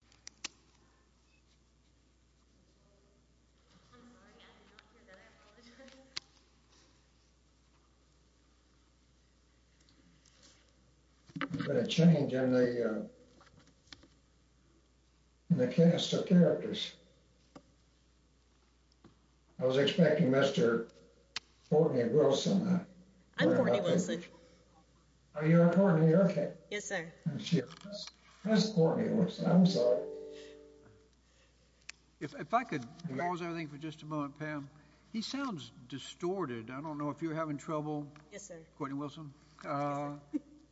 I'm sorry, I did not hear that. I apologize. There's been a change in the cast of characters. I was expecting Mr. Courtney Wilson. I'm Courtney Wilson. You're Courtney, okay. Yes, sir. That's Courtney Wilson. I'm sorry. If I could pause everything for just a moment, Pam. He sounds distorted. I don't know if you're having trouble. Yes, sir. Courtney Wilson.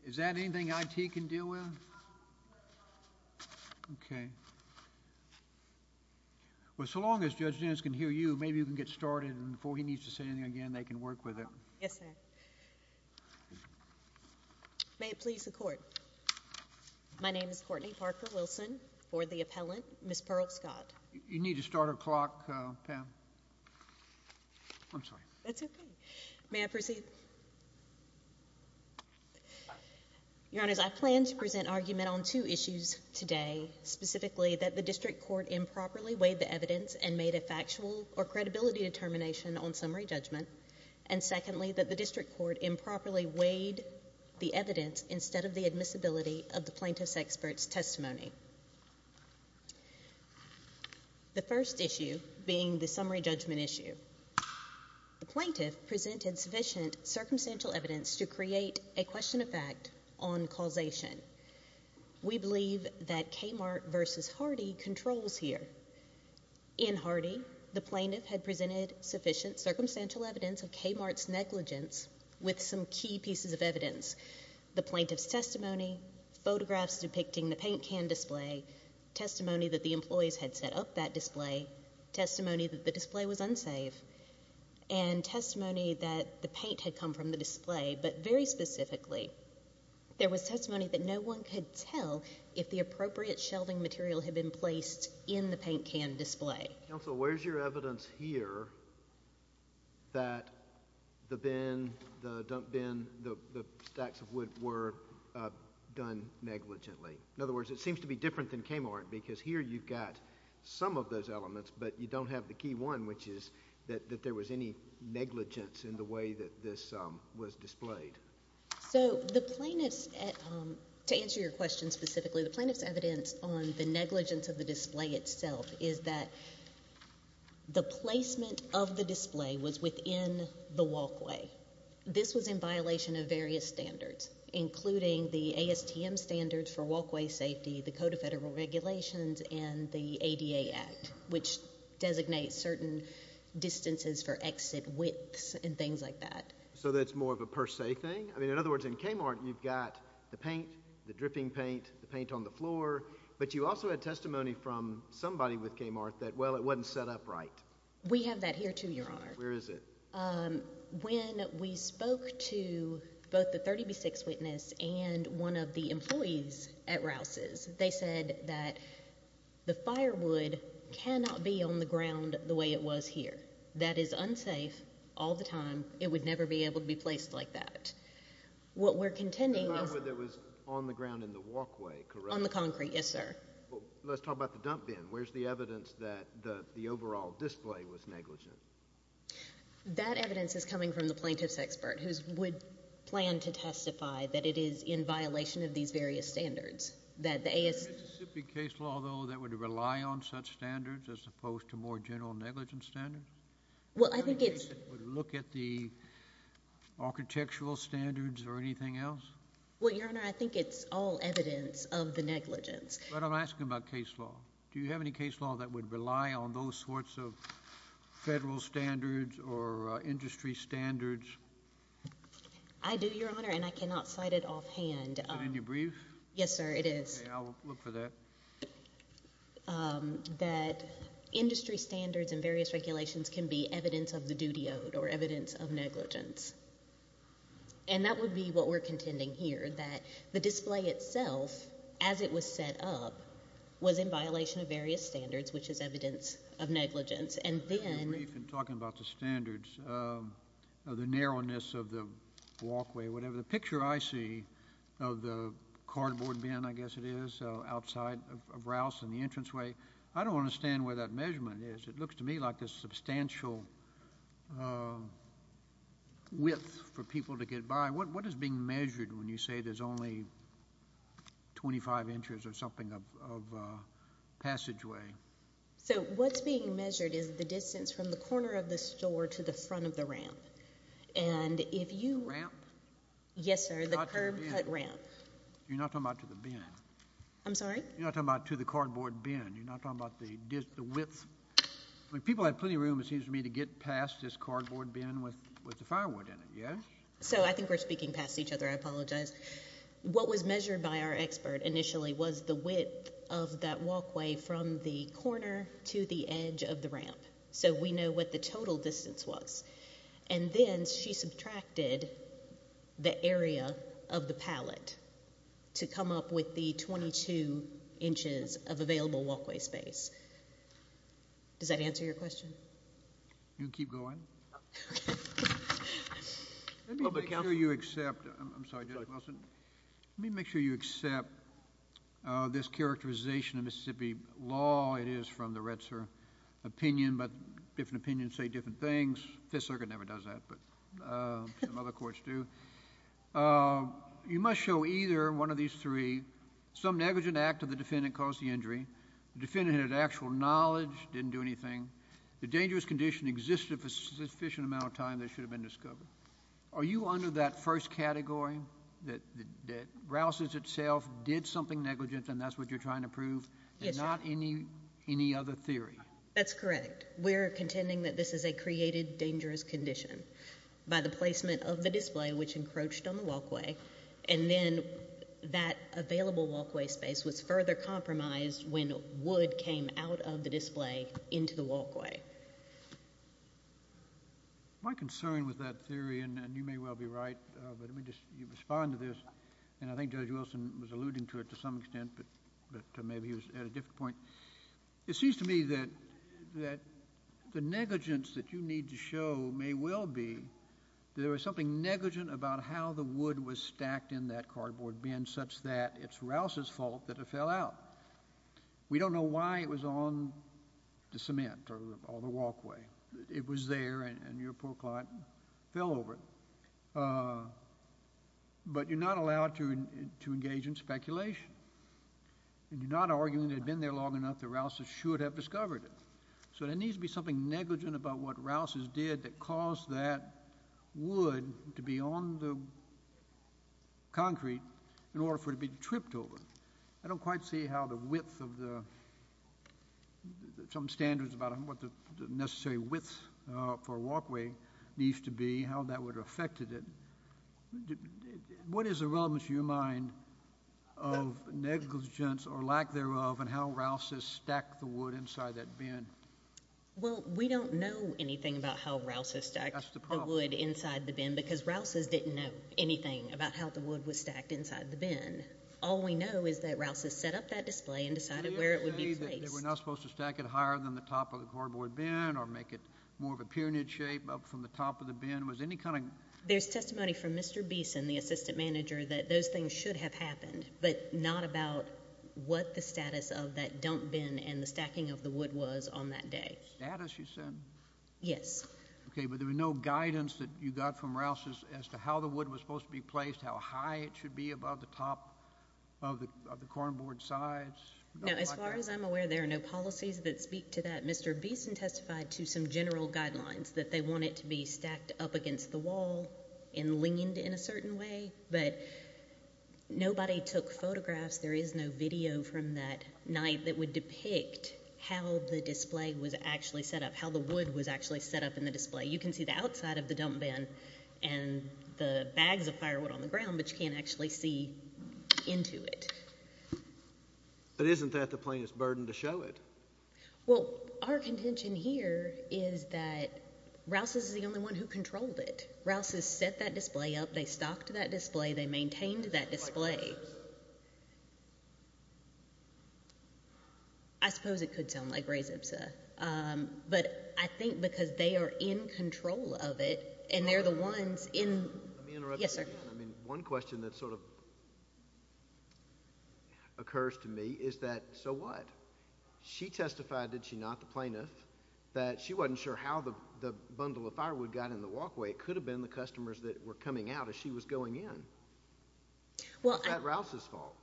Is that anything IT can deal with? Okay. Well, so long as Judge Dennis can hear you, maybe we can get started and before he needs to say anything again, they can work with it. Yes, sir. May it please the Court. My name is Courtney Parker Wilson for the appellant, Ms. Pearl Scott. You need to start a clock, Pam. I'm sorry. That's okay. May I proceed? Your Honors, I plan to present argument on two issues today, specifically that the district court improperly weighed the evidence and made a factual or credibility determination on summary judgment, and secondly that the district court improperly weighed the evidence instead of the admissibility of the plaintiff's expert's testimony. The first issue being the summary judgment issue. The plaintiff presented sufficient circumstantial evidence to create a question of fact on causation. We believe that Kmart v. Hardy controls here. In Hardy, the plaintiff had presented sufficient circumstantial evidence of Kmart's negligence with some key pieces of evidence, the plaintiff's testimony, photographs depicting the paint can display, testimony that the employees had set up that display, testimony that the display was unsafe, and testimony that the paint had come from the display, but very specifically, there was testimony that no one could tell if the appropriate shelving material had been placed in the paint can display. Counsel, where's your evidence here that the bin, the dump bin, the stacks of wood were done negligently? In other words, it seems to be different than Kmart, because here you've got some of those elements, but you don't have the key one, which is that there was any negligence in the way that this was displayed. So the plaintiff's, to answer your question specifically, the plaintiff's evidence on the negligence of the display itself is that the placement of the display was within the walkway. This was in violation of various standards, including the ASTM standards for walkway safety, the Code of Federal Regulations, and the ADA Act, which designates certain distances for exit widths and things like that. So that's more of a per se thing? I mean, in other words, in Kmart, you've got the paint, the dripping paint, the paint on the floor, but you also had testimony from somebody with Kmart that, well, it wasn't set up right. We have that here, too, Your Honor. Where is it? When we spoke to both the 30B6 witness and one of the employees at Rouse's, they said that the firewood cannot be on the ground the way it was here. That is unsafe all the time. It would never be able to be placed like that. What we're contending is— The firewood that was on the ground in the walkway, correct? On the concrete, yes, sir. Let's talk about the dump bin. Where's the evidence that the overall display was negligent? That evidence is coming from the plaintiff's expert, who would plan to testify that it is in violation of these various standards, that the AS— Would there be case law, though, that would rely on such standards as opposed to more general negligence standards? Well, I think it's— Would you look at the architectural standards or anything else? Well, Your Honor, I think it's all evidence of the negligence. But I'm asking about case law. Do you have any case law that would rely on those sorts of federal standards or industry standards? I do, Your Honor, and I cannot cite it offhand. Is it in your brief? Yes, sir, it is. Okay. I'll look for that. That industry standards and various regulations can be evidence of the duty owed or evidence of negligence. And that would be what we're contending here, that the display itself, as it was set up, was in violation of various standards, which is evidence of negligence. And then— In my brief, in talking about the standards, the narrowness of the walkway, whatever, the picture I see of the cardboard bin, I guess it is, outside of Rouse and the entranceway, I don't understand where that measurement is. It looks to me like a substantial width for people to get by. What is being measured when you say there's only 25 inches or something of passageway? So what's being measured is the distance from the corner of the store to the front of the ramp. And if you— Ramp? Yes, sir, the curb cut ramp. You're not talking about to the bin. I'm sorry? You're not talking about to the cardboard bin. You're not talking about the width. I mean, people have plenty of room, it seems to me, to get past this cardboard bin with the firewood in it, yeah? So I think we're speaking past each other. I apologize. from the corner to the edge of the ramp. So we know what the total distance was. And then she subtracted the area of the pallet to come up with the 22 inches of available walkway space. Does that answer your question? You can keep going. Let me make sure you accept—I'm sorry, Judge Wilson. Let me make sure you accept this characterization of Mississippi law. It is from the Retzer opinion, but different opinions say different things. Fifth Circuit never does that, but some other courts do. You must show either one of these three. Some negligent act of the defendant caused the injury. The defendant had actual knowledge, didn't do anything. The dangerous condition existed for a sufficient amount of time. They should have been discovered. Are you under that first category, that Rouse's itself did something negligent, and that's what you're trying to prove? Yes, sir. And not any other theory? That's correct. We're contending that this is a created dangerous condition by the placement of the display, which encroached on the walkway, and then that available walkway space was further compromised when wood came out of the display into the walkway. My concern with that theory, and you may well be right, but let me just respond to this, and I think Judge Wilson was alluding to it to some extent, but maybe he was at a different point. It seems to me that the negligence that you need to show may well be there was something negligent about how the wood was stacked in that cardboard bin such that it's Rouse's fault that it fell out. We don't know why it was on the cement or the walkway. It was there, and your poor client fell over it. But you're not allowed to engage in speculation, and you're not arguing that it had been there long enough that Rouse's should have discovered it. So there needs to be something negligent about what Rouse's did that caused that wood to be on the concrete in order for it to be tripped over. I don't quite see how the width of the standards about what the necessary width for a walkway needs to be, how that would have affected it. What is the relevance in your mind of negligence or lack thereof and how Rouse's stacked the wood inside that bin? Well, we don't know anything about how Rouse's stacked the wood inside the bin because Rouse's didn't know anything about how the wood was stacked inside the bin. All we know is that Rouse's set up that display and decided where it would be placed. They were not supposed to stack it higher than the top of the cardboard bin or make it more of a pyramid shape up from the top of the bin. There's testimony from Mr. Beeson, the assistant manager, that those things should have happened, but not about what the status of that dump bin and the stacking of the wood was on that day. Status, you said? Yes. Okay, but there was no guidance that you got from Rouse's as to how the wood was supposed to be placed, how high it should be above the top of the cardboard sides. As far as I'm aware, there are no policies that speak to that. Mr. Beeson testified to some general guidelines that they want it to be stacked up against the wall and leaned in a certain way, but nobody took photographs. There is no video from that night that would depict how the display was actually set up, how the wood was actually set up in the display. You can see the outside of the dump bin and the bags of firewood on the ground, but you can't actually see into it. But isn't that the plainest burden to show it? Well, our contention here is that Rouse's is the only one who controlled it. Rouse's set that display up, they stocked that display, they maintained that display. I suppose it could sound like Gray's Ipsa, but I think because they are in control of it and they're the ones in... Let me interrupt you for a second. One question that sort of occurs to me is that, so what? She testified, did she not, the plaintiff, that she wasn't sure how the bundle of firewood got in the walkway. It could have been the customers that were coming out as she was going in. Was that Rouse's fault?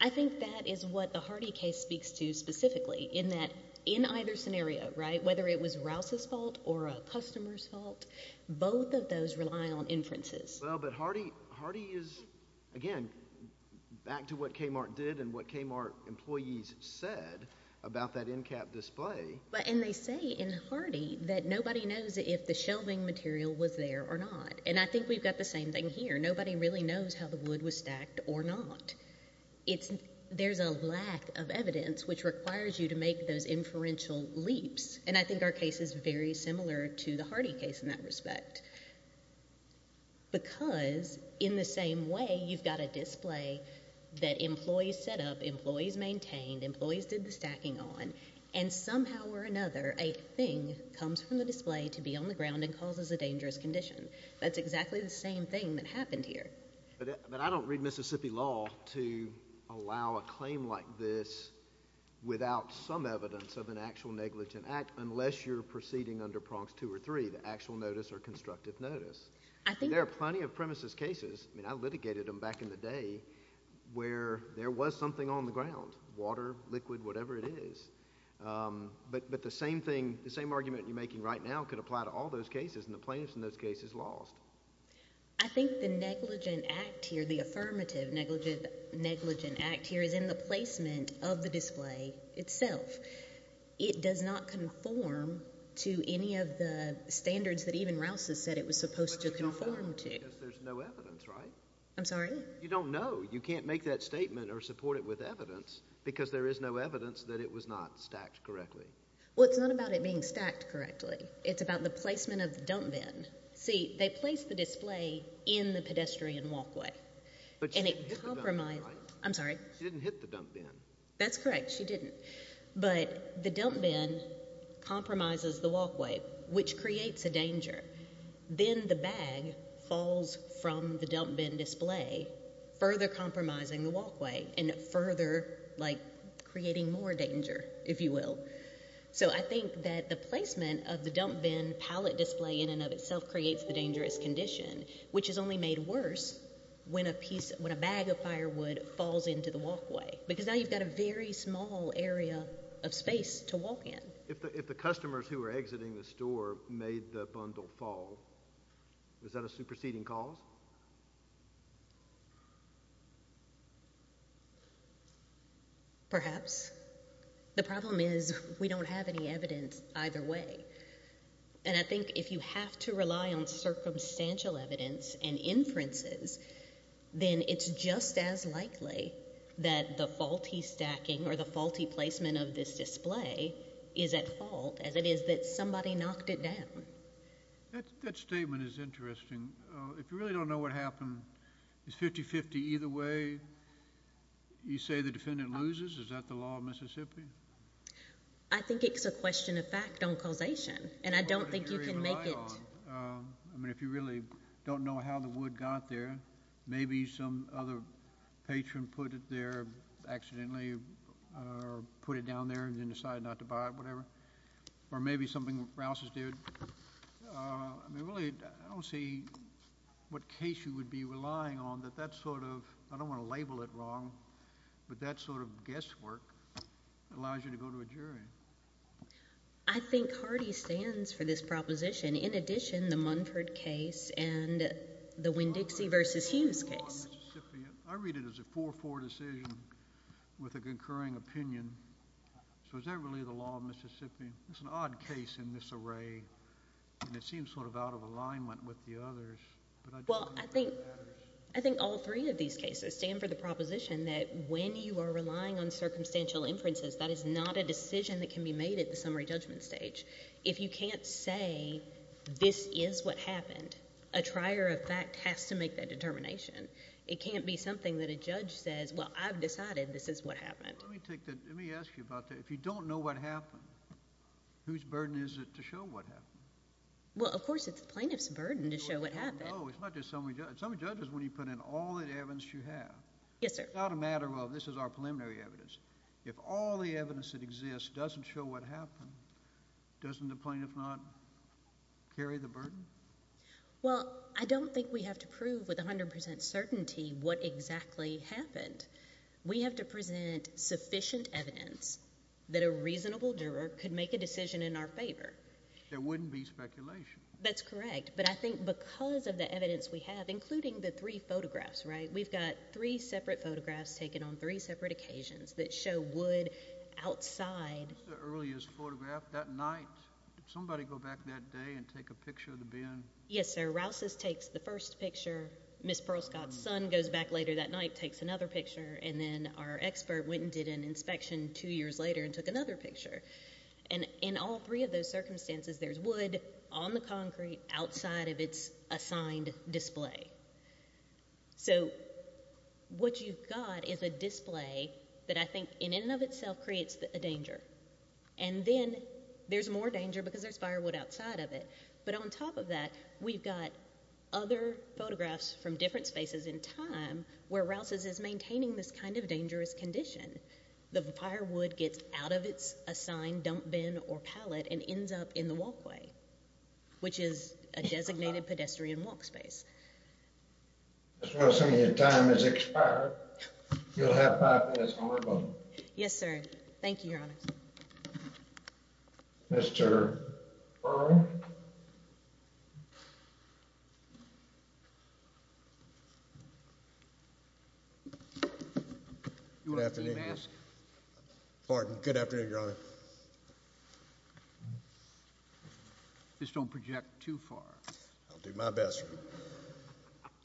I think that is what the Hardy case speaks to specifically in that in either scenario, right, whether it was Rouse's fault or a customer's fault, both of those rely on inferences. Well, but Hardy is, again, back to what Kmart did and what Kmart employees said about that end cap display. And they say in Hardy that nobody knows if the shelving material was there or not, and I think we've got the same thing here. Nobody really knows how the wood was stacked or not. There's a lack of evidence which requires you to make those inferential leaps, and I think our case is very similar because in the same way you've got a display that employees set up, employees maintained, employees did the stacking on, and somehow or another a thing comes from the display to be on the ground and causes a dangerous condition. That's exactly the same thing that happened here. But I don't read Mississippi law to allow a claim like this without some evidence of an actual negligent act unless you're proceeding under Prongs 2 or 3, the actual notice or constructive notice. There are plenty of premises cases. I mean, I litigated them back in the day where there was something on the ground, water, liquid, whatever it is. But the same thing, the same argument you're making right now could apply to all those cases, and the plaintiffs in those cases lost. I think the negligent act here, the affirmative negligent act here is in the placement of the display itself. It does not conform to any of the standards that even Rouse has said it was supposed to conform to. Because there's no evidence, right? I'm sorry? You don't know. You can't make that statement or support it with evidence because there is no evidence that it was not stacked correctly. Well, it's not about it being stacked correctly. It's about the placement of the dump bin. See, they placed the display in the pedestrian walkway. But she didn't hit the dump bin, right? I'm sorry? She didn't hit the dump bin. That's correct, she didn't. But the dump bin compromises the walkway, which creates a danger. Then the bag falls from the dump bin display, further compromising the walkway and further creating more danger, if you will. So I think that the placement of the dump bin pallet display in and of itself creates the dangerous condition, which is only made worse when a bag of firewood falls into the walkway. Because now you've got a very small area of space to walk in. If the customers who are exiting the store made the bundle fall, is that a superseding cause? Perhaps. The problem is we don't have any evidence either way. And I think if you have to rely on circumstantial evidence and inferences, then it's just as likely that the faulty stacking or the faulty placement of this display is at fault as it is that somebody knocked it down. That statement is interesting. If you really don't know what happened, is 50-50 either way? You say the defendant loses? Is that the law of Mississippi? I think it's a question of fact on causation, and I don't think you can make it. I mean, if you really don't know how the wood got there, maybe some other patron put it there accidentally or put it down there and then decided not to buy it, whatever. Or maybe something else is due. I mean, really, I don't see what case you would be relying on that that sort of, I don't want to label it wrong, but that sort of guesswork allows you to go to a jury. I think Hardy stands for this proposition. In addition, the Munford case and the Winn-Dixie v. Hughes case. I read it as a 4-4 decision with a concurring opinion. So is that really the law of Mississippi? It's an odd case in this array, and it seems sort of out of alignment with the others. Well, I think all three of these cases stand for the proposition that when you are relying on circumstantial inferences, that is not a decision that can be made at the summary judgment stage. If you can't say this is what happened, a trier of fact has to make that determination. It can't be something that a judge says, well, I've decided this is what happened. Let me ask you about that. If you don't know what happened, whose burden is it to show what happened? Well, of course it's the plaintiff's burden to show what happened. No, it's not just summary judgment. Summary judgment is when you put in all the evidence you have. Yes, sir. It's not a matter of this is our preliminary evidence. If all the evidence that exists doesn't show what happened, doesn't the plaintiff not carry the burden? Well, I don't think we have to prove with 100% certainty what exactly happened. We have to present sufficient evidence that a reasonable juror could make a decision in our favor. There wouldn't be speculation. That's correct. But I think because of the evidence we have, including the three photographs, right, we've got three separate photographs taken on three separate occasions that show wood outside. That's the earliest photograph. That night, did somebody go back that day and take a picture of the bin? Yes, sir. Rouses takes the first picture. Ms. Perlscott's son goes back later that night, takes another picture, and then our expert went and did an inspection two years later and took another picture. In all three of those circumstances, there's wood on the concrete outside of its assigned display. So what you've got is a display that I think in and of itself creates a danger. And then there's more danger because there's firewood outside of it. But on top of that, we've got other photographs from different spaces in time where Rouses is maintaining this kind of dangerous condition. The firewood gets out of its assigned dump bin or pallet and ends up in the walkway, which is a designated pedestrian walk space. Ms. Rouse, I'm assuming your time has expired. You'll have five minutes on your button. Yes, sir. Thank you, Your Honor. Mr. Perl? Good afternoon. Pardon. Good afternoon, Your Honor. Just don't project too far. I'll do my best, Your Honor.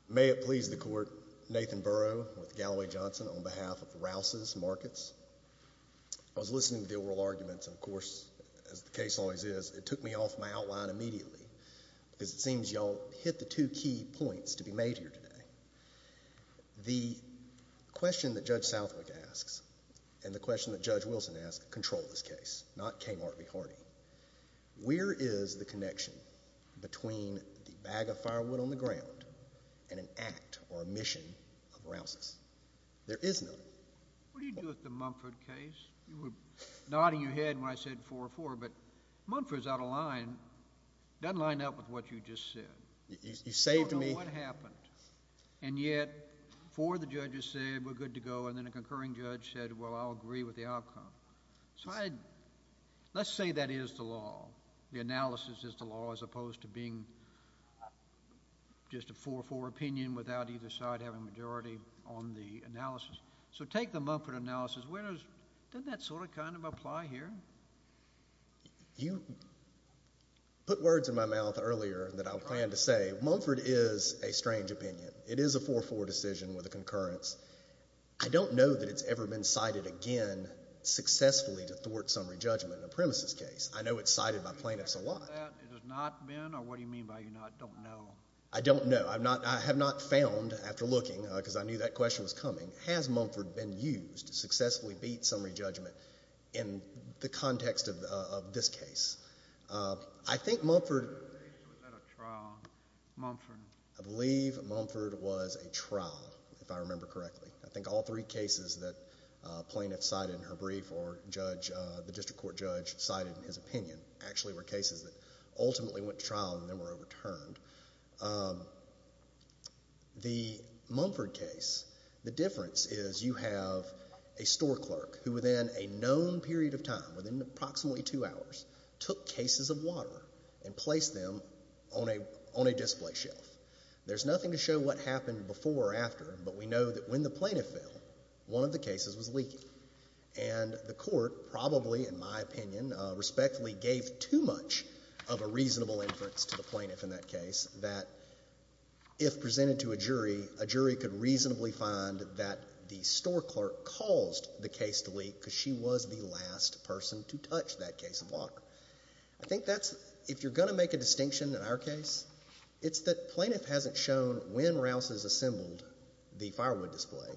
May it please the Court. Nathan Burrow with Galloway Johnson on behalf of Rouses Markets. I was listening to the oral arguments, and of course, as the case always is, it took me off my outline immediately because it seems you all hit the two key points to be made here today. The question that Judge Southwick asks and the question that Judge Wilson asks control this case, not Kmart be hearty. Where is the connection between the bag of firewood on the ground and an act or a mission of Rouses? There is none. What do you do with the Mumford case? You were nodding your head when I said 4-4, but Mumford's out of line. It doesn't line up with what you just said. You saved me. I don't know what happened, and yet four of the judges said, we're good to go, and then a concurring judge said, well, I'll agree with the outcome. So let's say that is the law, the analysis is the law, as opposed to being just a 4-4 opinion without either side having a majority on the analysis. So take the Mumford analysis. Doesn't that sort of kind of apply here? You put words in my mouth earlier that I planned to say. Mumford is a strange opinion. It is a 4-4 decision with a concurrence. I don't know that it's ever been cited again successfully to thwart summary judgment in a premises case. I know it's cited by plaintiffs a lot. It has not been? Or what do you mean by you don't know? I don't know. I have not found, after looking, because I knew that question was coming, has Mumford been used to successfully beat summary judgment in the context of this case? I think Mumford... Was that a trial? Mumford? I believe Mumford was a trial, if I remember correctly. I think all three cases that plaintiffs cited in her brief or the district court judge cited in his opinion actually were cases that ultimately went to trial and then were overturned. The Mumford case, the difference is you have a store clerk who, within a known period of time, within approximately two hours, took cases of water and placed them on a display shelf. There's nothing to show what happened before or after, but we know that when the plaintiff fell, one of the cases was leaky. And the court probably, in my opinion, respectfully gave too much of a reasonable inference to the plaintiff in that case that if presented to a jury, a jury could reasonably find that the store clerk caused the case to leak because she was the last person to touch that case of water. I think that's... If you're going to make a distinction in our case, it's that plaintiff hasn't shown when Rouse has assembled the firewood display,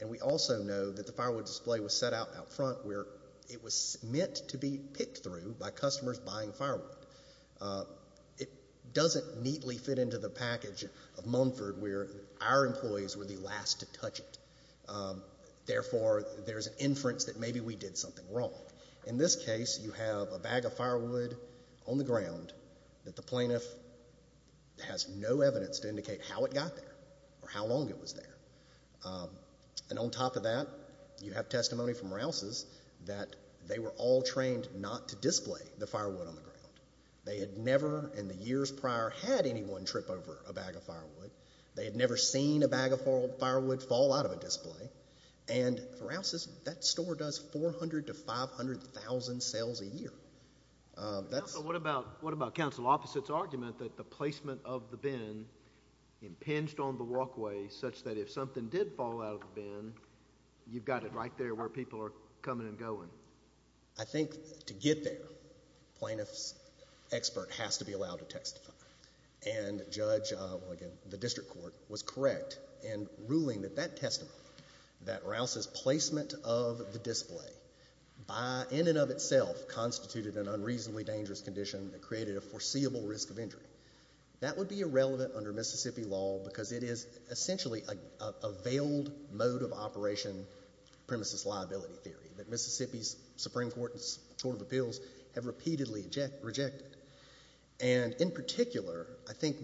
and we also know that the firewood display was set out out front where it was meant to be picked through by customers buying firewood. It doesn't neatly fit into the package of Mumford where our employees were the last to touch it. Therefore, there's an inference that maybe we did something wrong. In this case, you have a bag of firewood on the ground that the plaintiff has no evidence to indicate how it got there or how long it was there. And on top of that, you have testimony from Rouse's that they were all trained not to display the firewood on the ground. They had never in the years prior had anyone trip over a bag of firewood. They had never seen a bag of firewood fall out of a display. And for Rouse's, that store does 400,000 to 500,000 sales a year. What about counsel Opposite's argument that the placement of the bin impinged on the walkway such that if something did fall out of the bin, you've got it right there where people are coming and going? I think to get there, plaintiff's expert has to be allowed to testify. And the district court was correct in ruling that that testimony, that Rouse's placement of the display, in and of itself constituted an unreasonably dangerous condition that created a foreseeable risk of injury. That would be irrelevant under Mississippi law because it is essentially a veiled mode of operation premises liability theory that Mississippi's Supreme Court and the Court of Appeals have repeatedly rejected. And in particular, I think...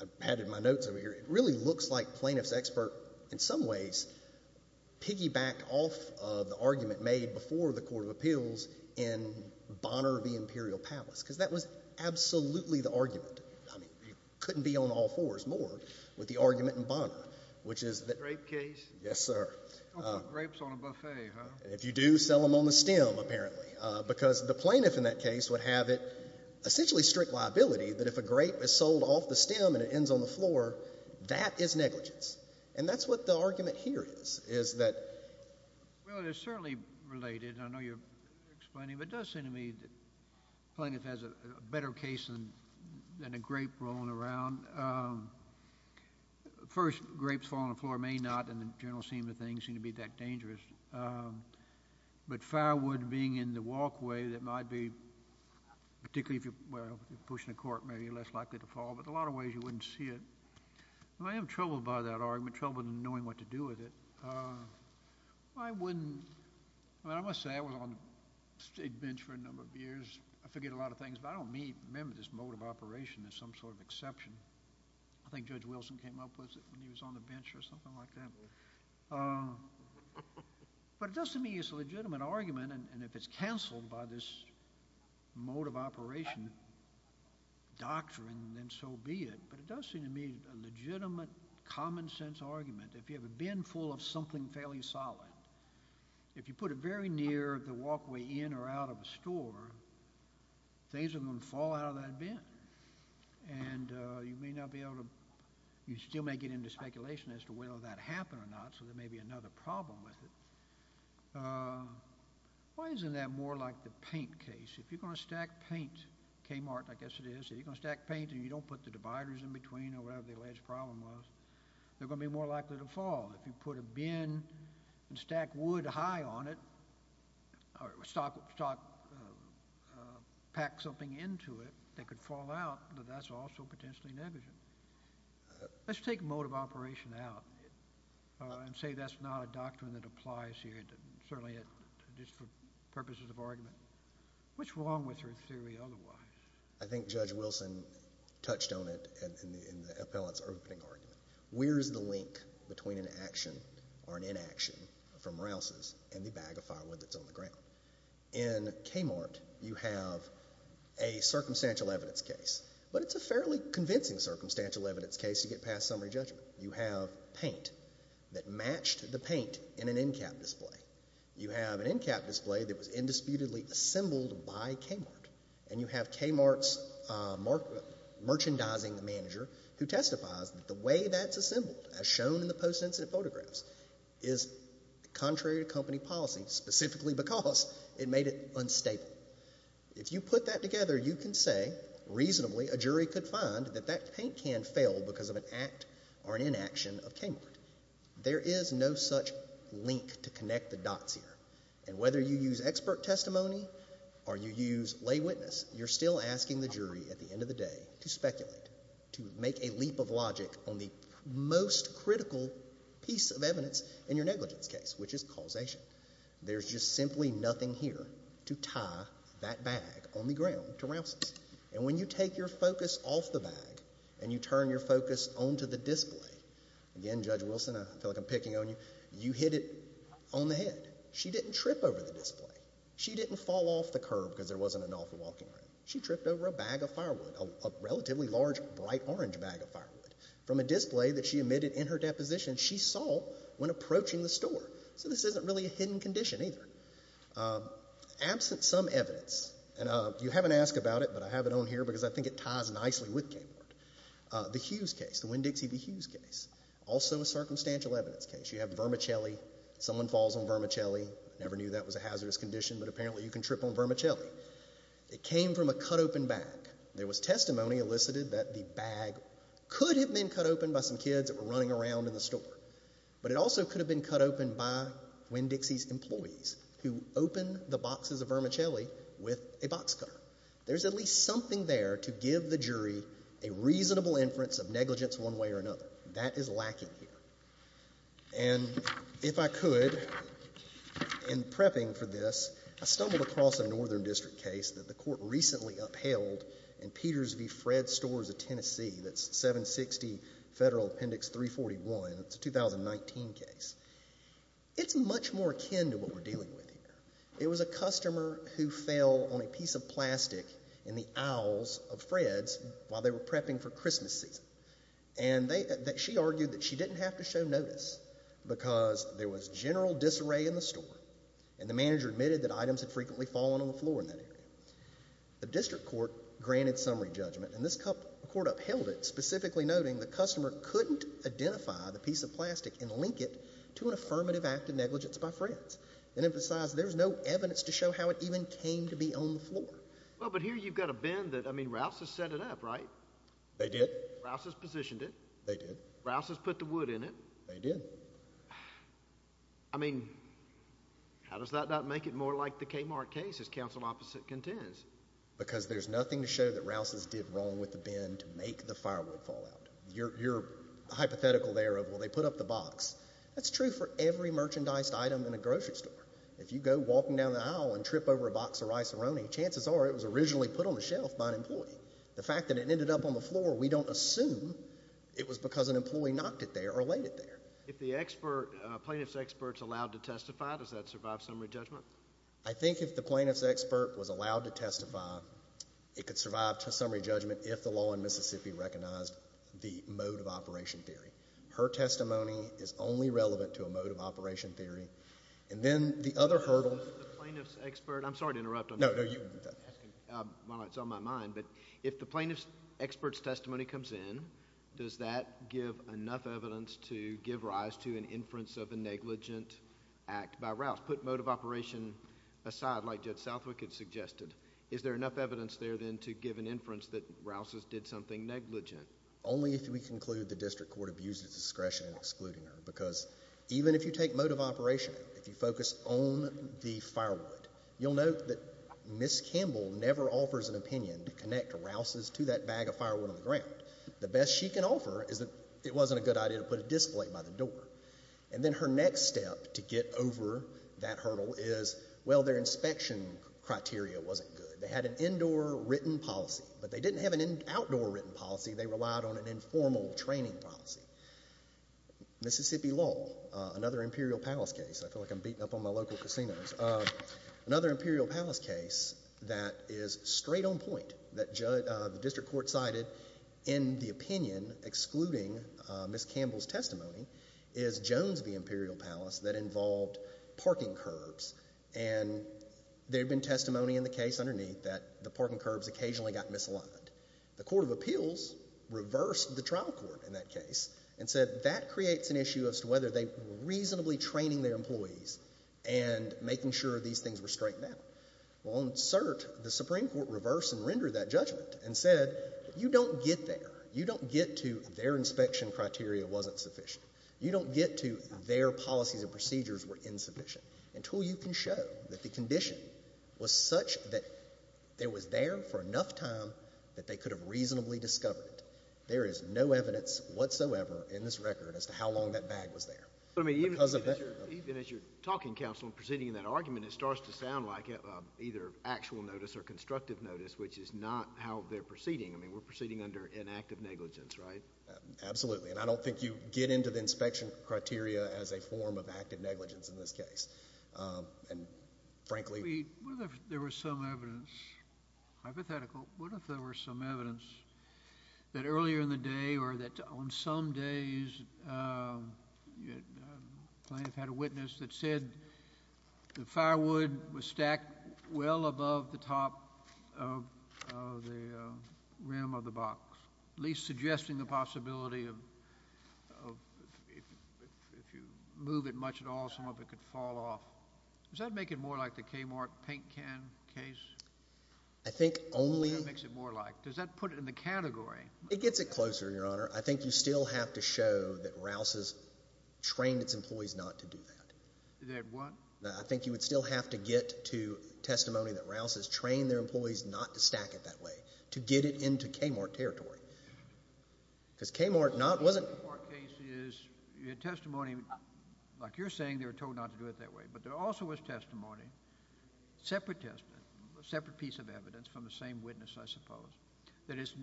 I've added my notes over here. It really looks like plaintiff's expert, in some ways, piggybacked off of the argument made before the Court of Appeals in Bonner v. Imperial Palace because that was absolutely the argument. I mean, you couldn't be on all fours more with the argument in Bonner, which is... Grape case? Yes, sir. You don't put grapes on a buffet, huh? And if you do, sell them on the stem, apparently, because the plaintiff in that case would have it, essentially, strict liability that if a grape is sold off the stem and it ends on the floor, that is negligence. And that's what the argument here is, is that... Well, it is certainly related. I know you're explaining, but it does seem to me that the plaintiff has a better case than a grape rolling around. First, grapes falling on the floor may not, and the general scheme of things, seem to be that dangerous. But firewood being in the walkway that might be... Particularly if you're pushing a court, maybe you're less likely to fall, but in a lot of ways you wouldn't see it. I am troubled by that argument, troubled in knowing what to do with it. I wouldn't... I must say, I was on the state bench for a number of years. I forget a lot of things, but I don't remember this mode of operation as some sort of exception. I think Judge Wilson came up with it when he was on the bench or something like that. But it does seem to me it's a legitimate argument, and if it's cancelled by this mode of operation doctrine, then so be it. But it does seem to me a legitimate, common-sense argument. If you have a bin full of something fairly solid, if you put it very near the walkway in or out of a store, things are going to fall out of that bin. And you may not be able to... You still may get into speculation as to whether that happened or not, so there may be another problem with it. Why isn't that more like the paint case? If you're going to stack paint... Kmart, I guess it is, if you're going to stack paint and you don't put the dividers in between or whatever the alleged problem was, they're going to be more likely to fall. If you put a bin and stack wood high on it, or pack something into it that could fall out, that's also potentially negligent. Let's take mode of operation out and say that's not a doctrine that applies here, certainly just for purposes of argument. What's wrong with your theory otherwise? I think Judge Wilson touched on it in the appellant's opening argument. Where is the link between an action or an inaction from Rouse's and the bag of firewood that's on the ground? In Kmart, you have a circumstantial evidence case, but it's a fairly convincing circumstantial evidence case to get past summary judgment. You have paint that matched the paint in an in-cap display. You have an in-cap display that was indisputably assembled by Kmart, and you have Kmart's merchandising manager who testifies that the way that's assembled, as shown in the post-incident photographs, is contrary to company policy, specifically because it made it unstable. If you put that together, you can say reasonably a jury could find that that paint can failed because of an act or an inaction of Kmart. There is no such link to connect the dots here. And whether you use expert testimony or you use lay witness, you're still asking the jury at the end of the day to speculate, to make a leap of logic on the most critical piece of evidence in your negligence case, which is causation. There's just simply nothing here to tie that bag on the ground to Rouse's. And when you take your focus off the bag and you turn your focus onto the display, again, Judge Wilson, I feel like I'm picking on you, you hit it on the head. She didn't trip over the display. She didn't fall off the curb because there wasn't an awful walking room. She tripped over a bag of firewood, a relatively large, bright orange bag of firewood, from a display that she admitted in her deposition she saw when approaching the store. So this isn't really a hidden condition either. Absent some evidence, and you haven't asked about it, but I have it on here because I think it ties nicely with Kapor, the Hughes case, the Winn-Dixie v. Hughes case, also a circumstantial evidence case. You have vermicelli. Someone falls on vermicelli. Never knew that was a hazardous condition, but apparently you can trip on vermicelli. It came from a cut-open bag. There was testimony elicited that the bag could have been cut open by some kids that were running around in the store, but it also could have been cut open by Winn-Dixie's employees who opened the boxes of vermicelli with a box cutter. There's at least something there to give the jury a reasonable inference of negligence one way or another. That is lacking here. And if I could, in prepping for this, I stumbled across a Northern District case that the Court recently upheld in Peters v. Fred Stores of Tennessee. That's 760 Federal Appendix 341. It's a 2019 case. It's much more akin to what we're dealing with here. It was a customer who fell on a piece of plastic in the aisles of Fred's while they were prepping for Christmas season. And she argued that she didn't have to show notice because there was general disarray in the store, and the manager admitted that items had frequently fallen on the floor in that area. The District Court granted summary judgment, and this court upheld it, specifically noting the customer couldn't identify the piece of plastic and link it to an affirmative act of negligence by Fred's and emphasized there's no evidence to show how it even came to be on the floor. Well, but here you've got a bin that, I mean, Rouse has set it up, right? They did. Rouse has positioned it. They did. Rouse has put the wood in it. They did. I mean, how does that not make it more like the Kmart case, as counsel opposite contends? Because there's nothing to show that Rouse's did wrong with the bin to make the firewood fall out. You're hypothetical there of, well, they put up the box. That's true for every merchandised item in a grocery store. If you go walking down the aisle and trip over a box of rice-a-roni, chances are it was originally put on the shelf by an employee. The fact that it ended up on the floor, we don't assume it was because an employee knocked it there or laid it there. If the plaintiff's expert's allowed to testify, does that survive summary judgment? I think if the plaintiff's expert was allowed to testify, it could survive summary judgment if the law in Mississippi recognized the mode of operation theory. Her testimony is only relevant to a mode of operation theory. And then the other hurdle... The plaintiff's expert... I'm sorry to interrupt. No, no, you... While it's on my mind, but if the plaintiff's expert's testimony comes in, does that give enough evidence to give rise to an inference of a negligent act by Rouse? Put mode of operation aside, like Judge Southwick had suggested, is there enough evidence there, then, to give an inference that Rouse did something negligent? Only if we conclude the district court abused its discretion in excluding her. Because even if you take mode of operation, if you focus on the firewood, you'll note that Ms. Campbell never offers an opinion to connect Rouse's to that bag of firewood on the ground. The best she can offer is that it wasn't a good idea to put a display by the door. And then her next step to get over that hurdle is, well, their inspection criteria wasn't good. They had an indoor written policy. But they didn't have an outdoor written policy. They relied on an informal training policy. Mississippi lull, another Imperial Palace case. I feel like I'm beating up on my local casinos. Another Imperial Palace case that is straight on point, that the district court cited in the opinion excluding Ms. Campbell's testimony, is Jones v. Imperial Palace that involved parking curbs. And there had been testimony in the case underneath that the parking curbs occasionally got misaligned. The Court of Appeals reversed the trial court in that case and said that creates an issue as to whether they were reasonably training their employees and making sure these things were straightened out. Well, on cert, the Supreme Court reversed and rendered that judgment and said you don't get there. You don't get to their inspection criteria wasn't sufficient. You don't get to their policies and procedures were insufficient. Until you can show that the condition was such that it was there for enough time that they could have reasonably discovered it, there is no evidence whatsoever in this record as to how long that bag was there. Even as you're talking, counsel, and proceeding in that argument, it starts to sound like either actual notice or constructive notice, which is not how they're proceeding. I mean, we're proceeding under inactive negligence, right? Absolutely. And I don't think you get into the inspection criteria as a form of active negligence in this case. And frankly... What if there was some evidence, hypothetical, what if there were some evidence that earlier in the day or that on some days plaintiff had a witness that said the firewood was stacked well above the top of the rim of the box, at least suggesting the possibility of if you move it much at all, some of it could fall off. Does that make it more like the Kmart paint can case? I think only... That's what it makes it more like. Does that put it in the category? It gets it closer, Your Honor. I think you still have to show that Rouse has trained its employees not to do that. That what? I think you would still have to get to testimony that Rouse has trained their employees not to stack it that way to get it into Kmart territory. Because Kmart wasn't... Kmart case is testimony. Like you're saying, they were told not to do it that way. But there also was testimony, separate piece of evidence from the same witness, I suppose, that it's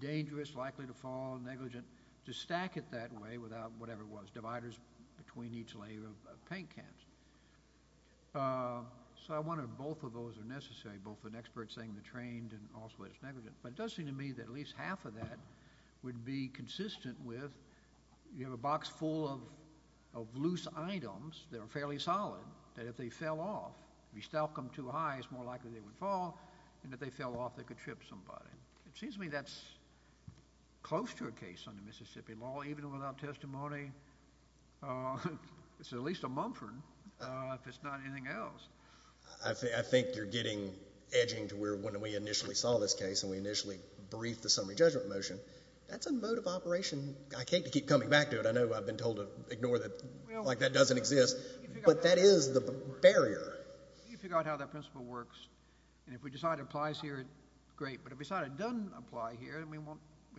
dangerous, likely to fall, negligent, to stack it that way without whatever it was, dividers between each layer of paint cans. So I wonder if both of those are necessary, both an expert saying they're trained and also it's negligent. But it does seem to me that at least half of that would be consistent with you have a box full of loose items that are fairly solid, that if they fell off, if you stack them too high, it's more likely they would fall, and if they fell off, they could trip somebody. It seems to me that's close to a case under Mississippi law, even without testimony. It's at least a Mumford if it's not anything else. I think you're getting edging to where when we initially saw this case and we initially briefed the summary judgment motion, that's a mode of operation. I hate to keep coming back to it. I know I've been told to ignore that like that doesn't exist. But that is the barrier. You can figure out how that principle works. And if we decide it applies here, great. But if we decide it doesn't apply here, we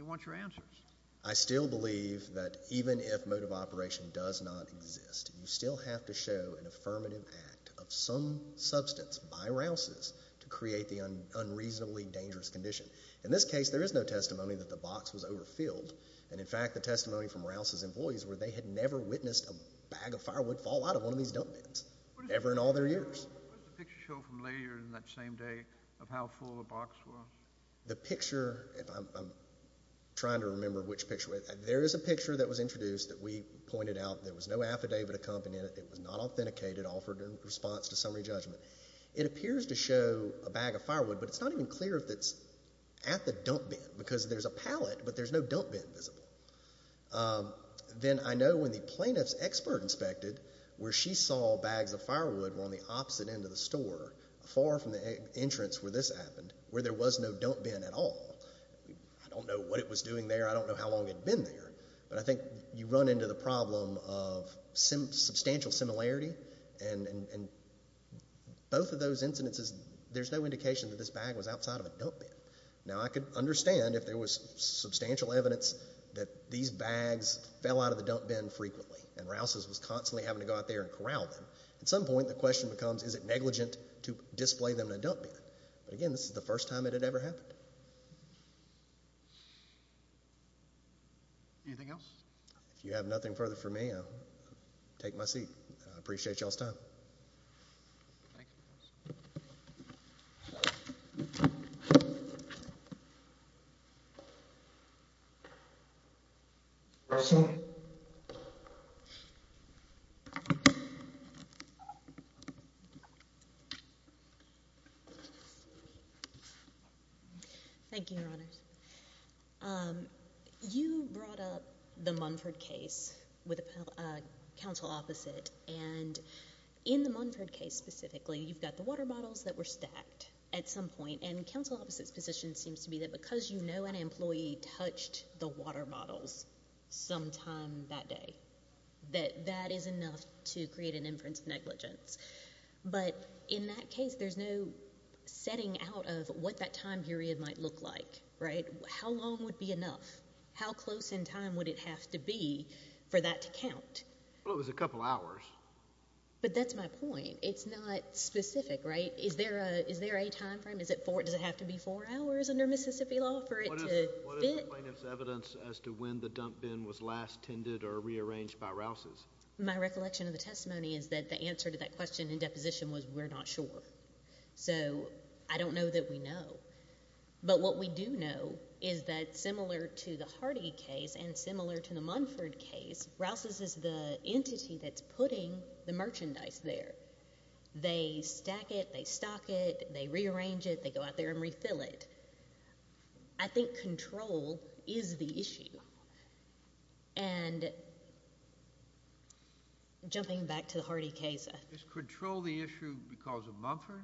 want your answers. I still believe that even if mode of operation does not exist, you still have to show an affirmative act of some substance by Rouse's to create the unreasonably dangerous condition. In this case, there is no testimony that the box was overfilled. And, in fact, the testimony from Rouse's employees were they had never witnessed a bag of firewood fall out of one of these dump bins ever in all their years. What does the picture show from later in that same day of how full the box was? The picture, if I'm trying to remember which picture, there is a picture that was introduced that we pointed out that there was no affidavit accompanying it. It was not authenticated, offered in response to summary judgment. It appears to show a bag of firewood, but it's not even clear if it's at the dump bin because there's a pallet, but there's no dump bin visible. Then I know when the plaintiff's expert inspected, where she saw bags of firewood were on the opposite end of the store, far from the entrance where this happened, where there was no dump bin at all. I don't know what it was doing there. I don't know how long it had been there. But I think you run into the problem of substantial similarity, and both of those incidences, there's no indication that this bag was outside of a dump bin. Now, I could understand if there was substantial evidence that these bags fell out of the dump bin frequently and Rouse's was constantly having to go out there and corral them. At some point, the question becomes, is it negligent to display them in a dump bin? But again, this is the first time it had ever happened. Anything else? If you have nothing further for me, I'll take my seat. I appreciate you all's time. Thank you. Thank you, Your Honors. You brought up the Munford case with a counsel opposite, and in the Munford case specifically, you've got the water bottles that were stacked at some point, and counsel opposite's position seems to be that because you know an employee touched the water bottles sometime that day, that that is enough to create an inference of negligence. But in that case, there's no setting out of what that time period might look like, right? How long would be enough? How close in time would it have to be for that to count? Well, it was a couple hours. But that's my point. It's not specific, right? Is there a time frame? Does it have to be four hours under Mississippi law for it to fit? What is the plaintiff's evidence as to when the dump bin was last tended or rearranged by Rouse's? My recollection of the testimony is that the answer to that question in deposition was we're not sure. So I don't know that we know. But what we do know is that similar to the Hardy case and similar to the Munford case, Rouse's is the entity that's putting the merchandise there. They stack it, they stock it, they rearrange it, they go out there and refill it. I think control is the issue. And jumping back to the Hardy case. Is control the issue because of Munford?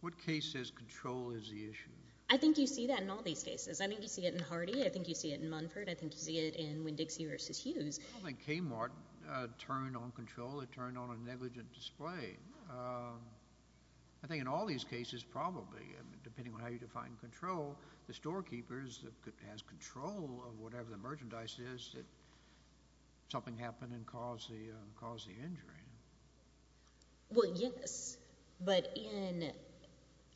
What case says control is the issue? I think you see that in all these cases. I think you see it in Hardy. I think you see it in Munford. I think you see it in Winn-Dixie v. Hughes. I don't think Kmart turned on control. It turned on a negligent display. I think in all these cases probably, depending on how you define control, the storekeeper has control of whatever the merchandise is that something happened and caused the injury. Well, yes. But in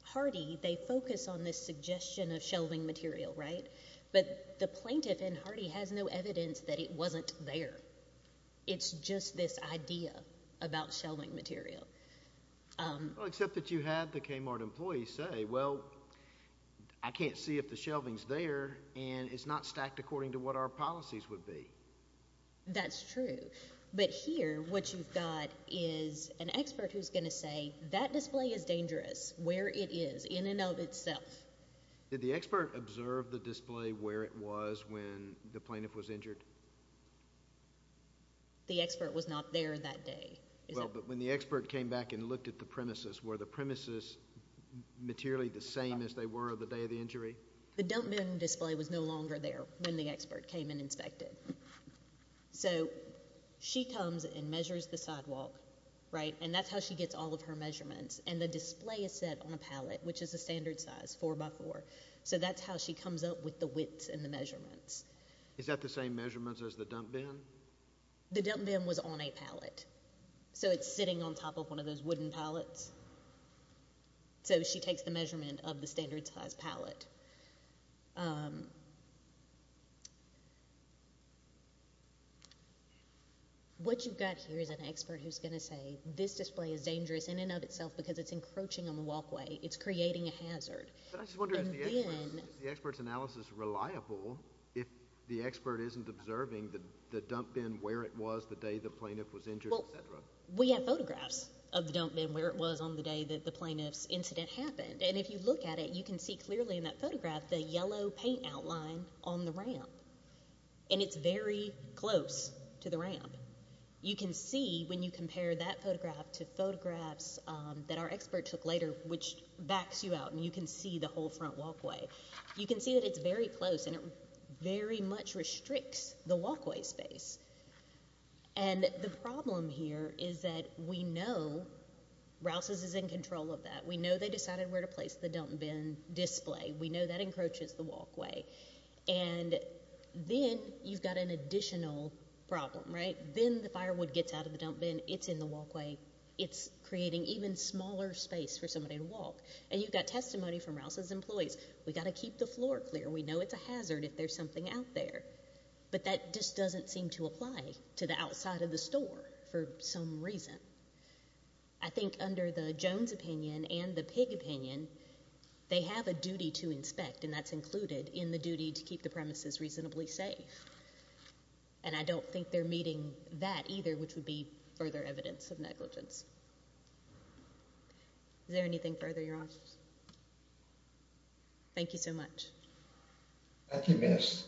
Hardy, they focus on this suggestion of shelving material, right? But the plaintiff in Hardy has no evidence that it wasn't there. It's just this idea about shelving material. Well, except that you had the Kmart employee say, well, I can't see if the shelving's there and it's not stacked according to what our policies would be. That's true. But here what you've got is an expert who's going to say that display is dangerous where it is in and of itself. Did the expert observe the display where it was when the plaintiff was injured? The expert was not there that day. Well, but when the expert came back and looked at the premises, were the premises materially the same as they were the day of the injury? The dump bin display was no longer there when the expert came and inspected. So she comes and measures the sidewalk, right? And that's how she gets all of her measurements. And the display is set on a pallet, which is a standard size, four by four. So that's how she comes up with the widths and the measurements. Is that the same measurements as the dump bin? The dump bin was on a pallet. So it's sitting on top of one of those wooden pallets. So she takes the measurement of the standard size pallet. What you've got here is an expert who's going to say this display is dangerous in and of itself because it's encroaching on the walkway. It's creating a hazard. But I just wonder, is the expert's analysis reliable if the expert isn't observing the dump bin where it was the day the plaintiff was injured, et cetera? Well, we have photographs of the dump bin where it was on the day that the plaintiff's incident happened. And if you look at it, you can see clearly in that photograph the yellow paint outline on the ramp. And it's very close to the ramp. You can see when you compare that photograph to photographs that our expert took later, which backs you out, and you can see the whole front walkway. You can see that it's very close, and it very much restricts the walkway space. And the problem here is that we know Rouse's is in control of that. We know they decided where to place the dump bin display. We know that encroaches the walkway. And then you've got an additional problem, right? Then the firewood gets out of the dump bin. It's in the walkway. It's creating even smaller space for somebody to walk. And you've got testimony from Rouse's employees. We've got to keep the floor clear. We know it's a hazard if there's something out there. But that just doesn't seem to apply to the outside of the store for some reason. I think under the Jones opinion and the Pig opinion, they have a duty to inspect, and that's included in the duty to keep the premises reasonably safe. And I don't think they're meeting that either, which would be further evidence of negligence. Is there anything further, Your Honors? Thank you so much. Thank you, Miss.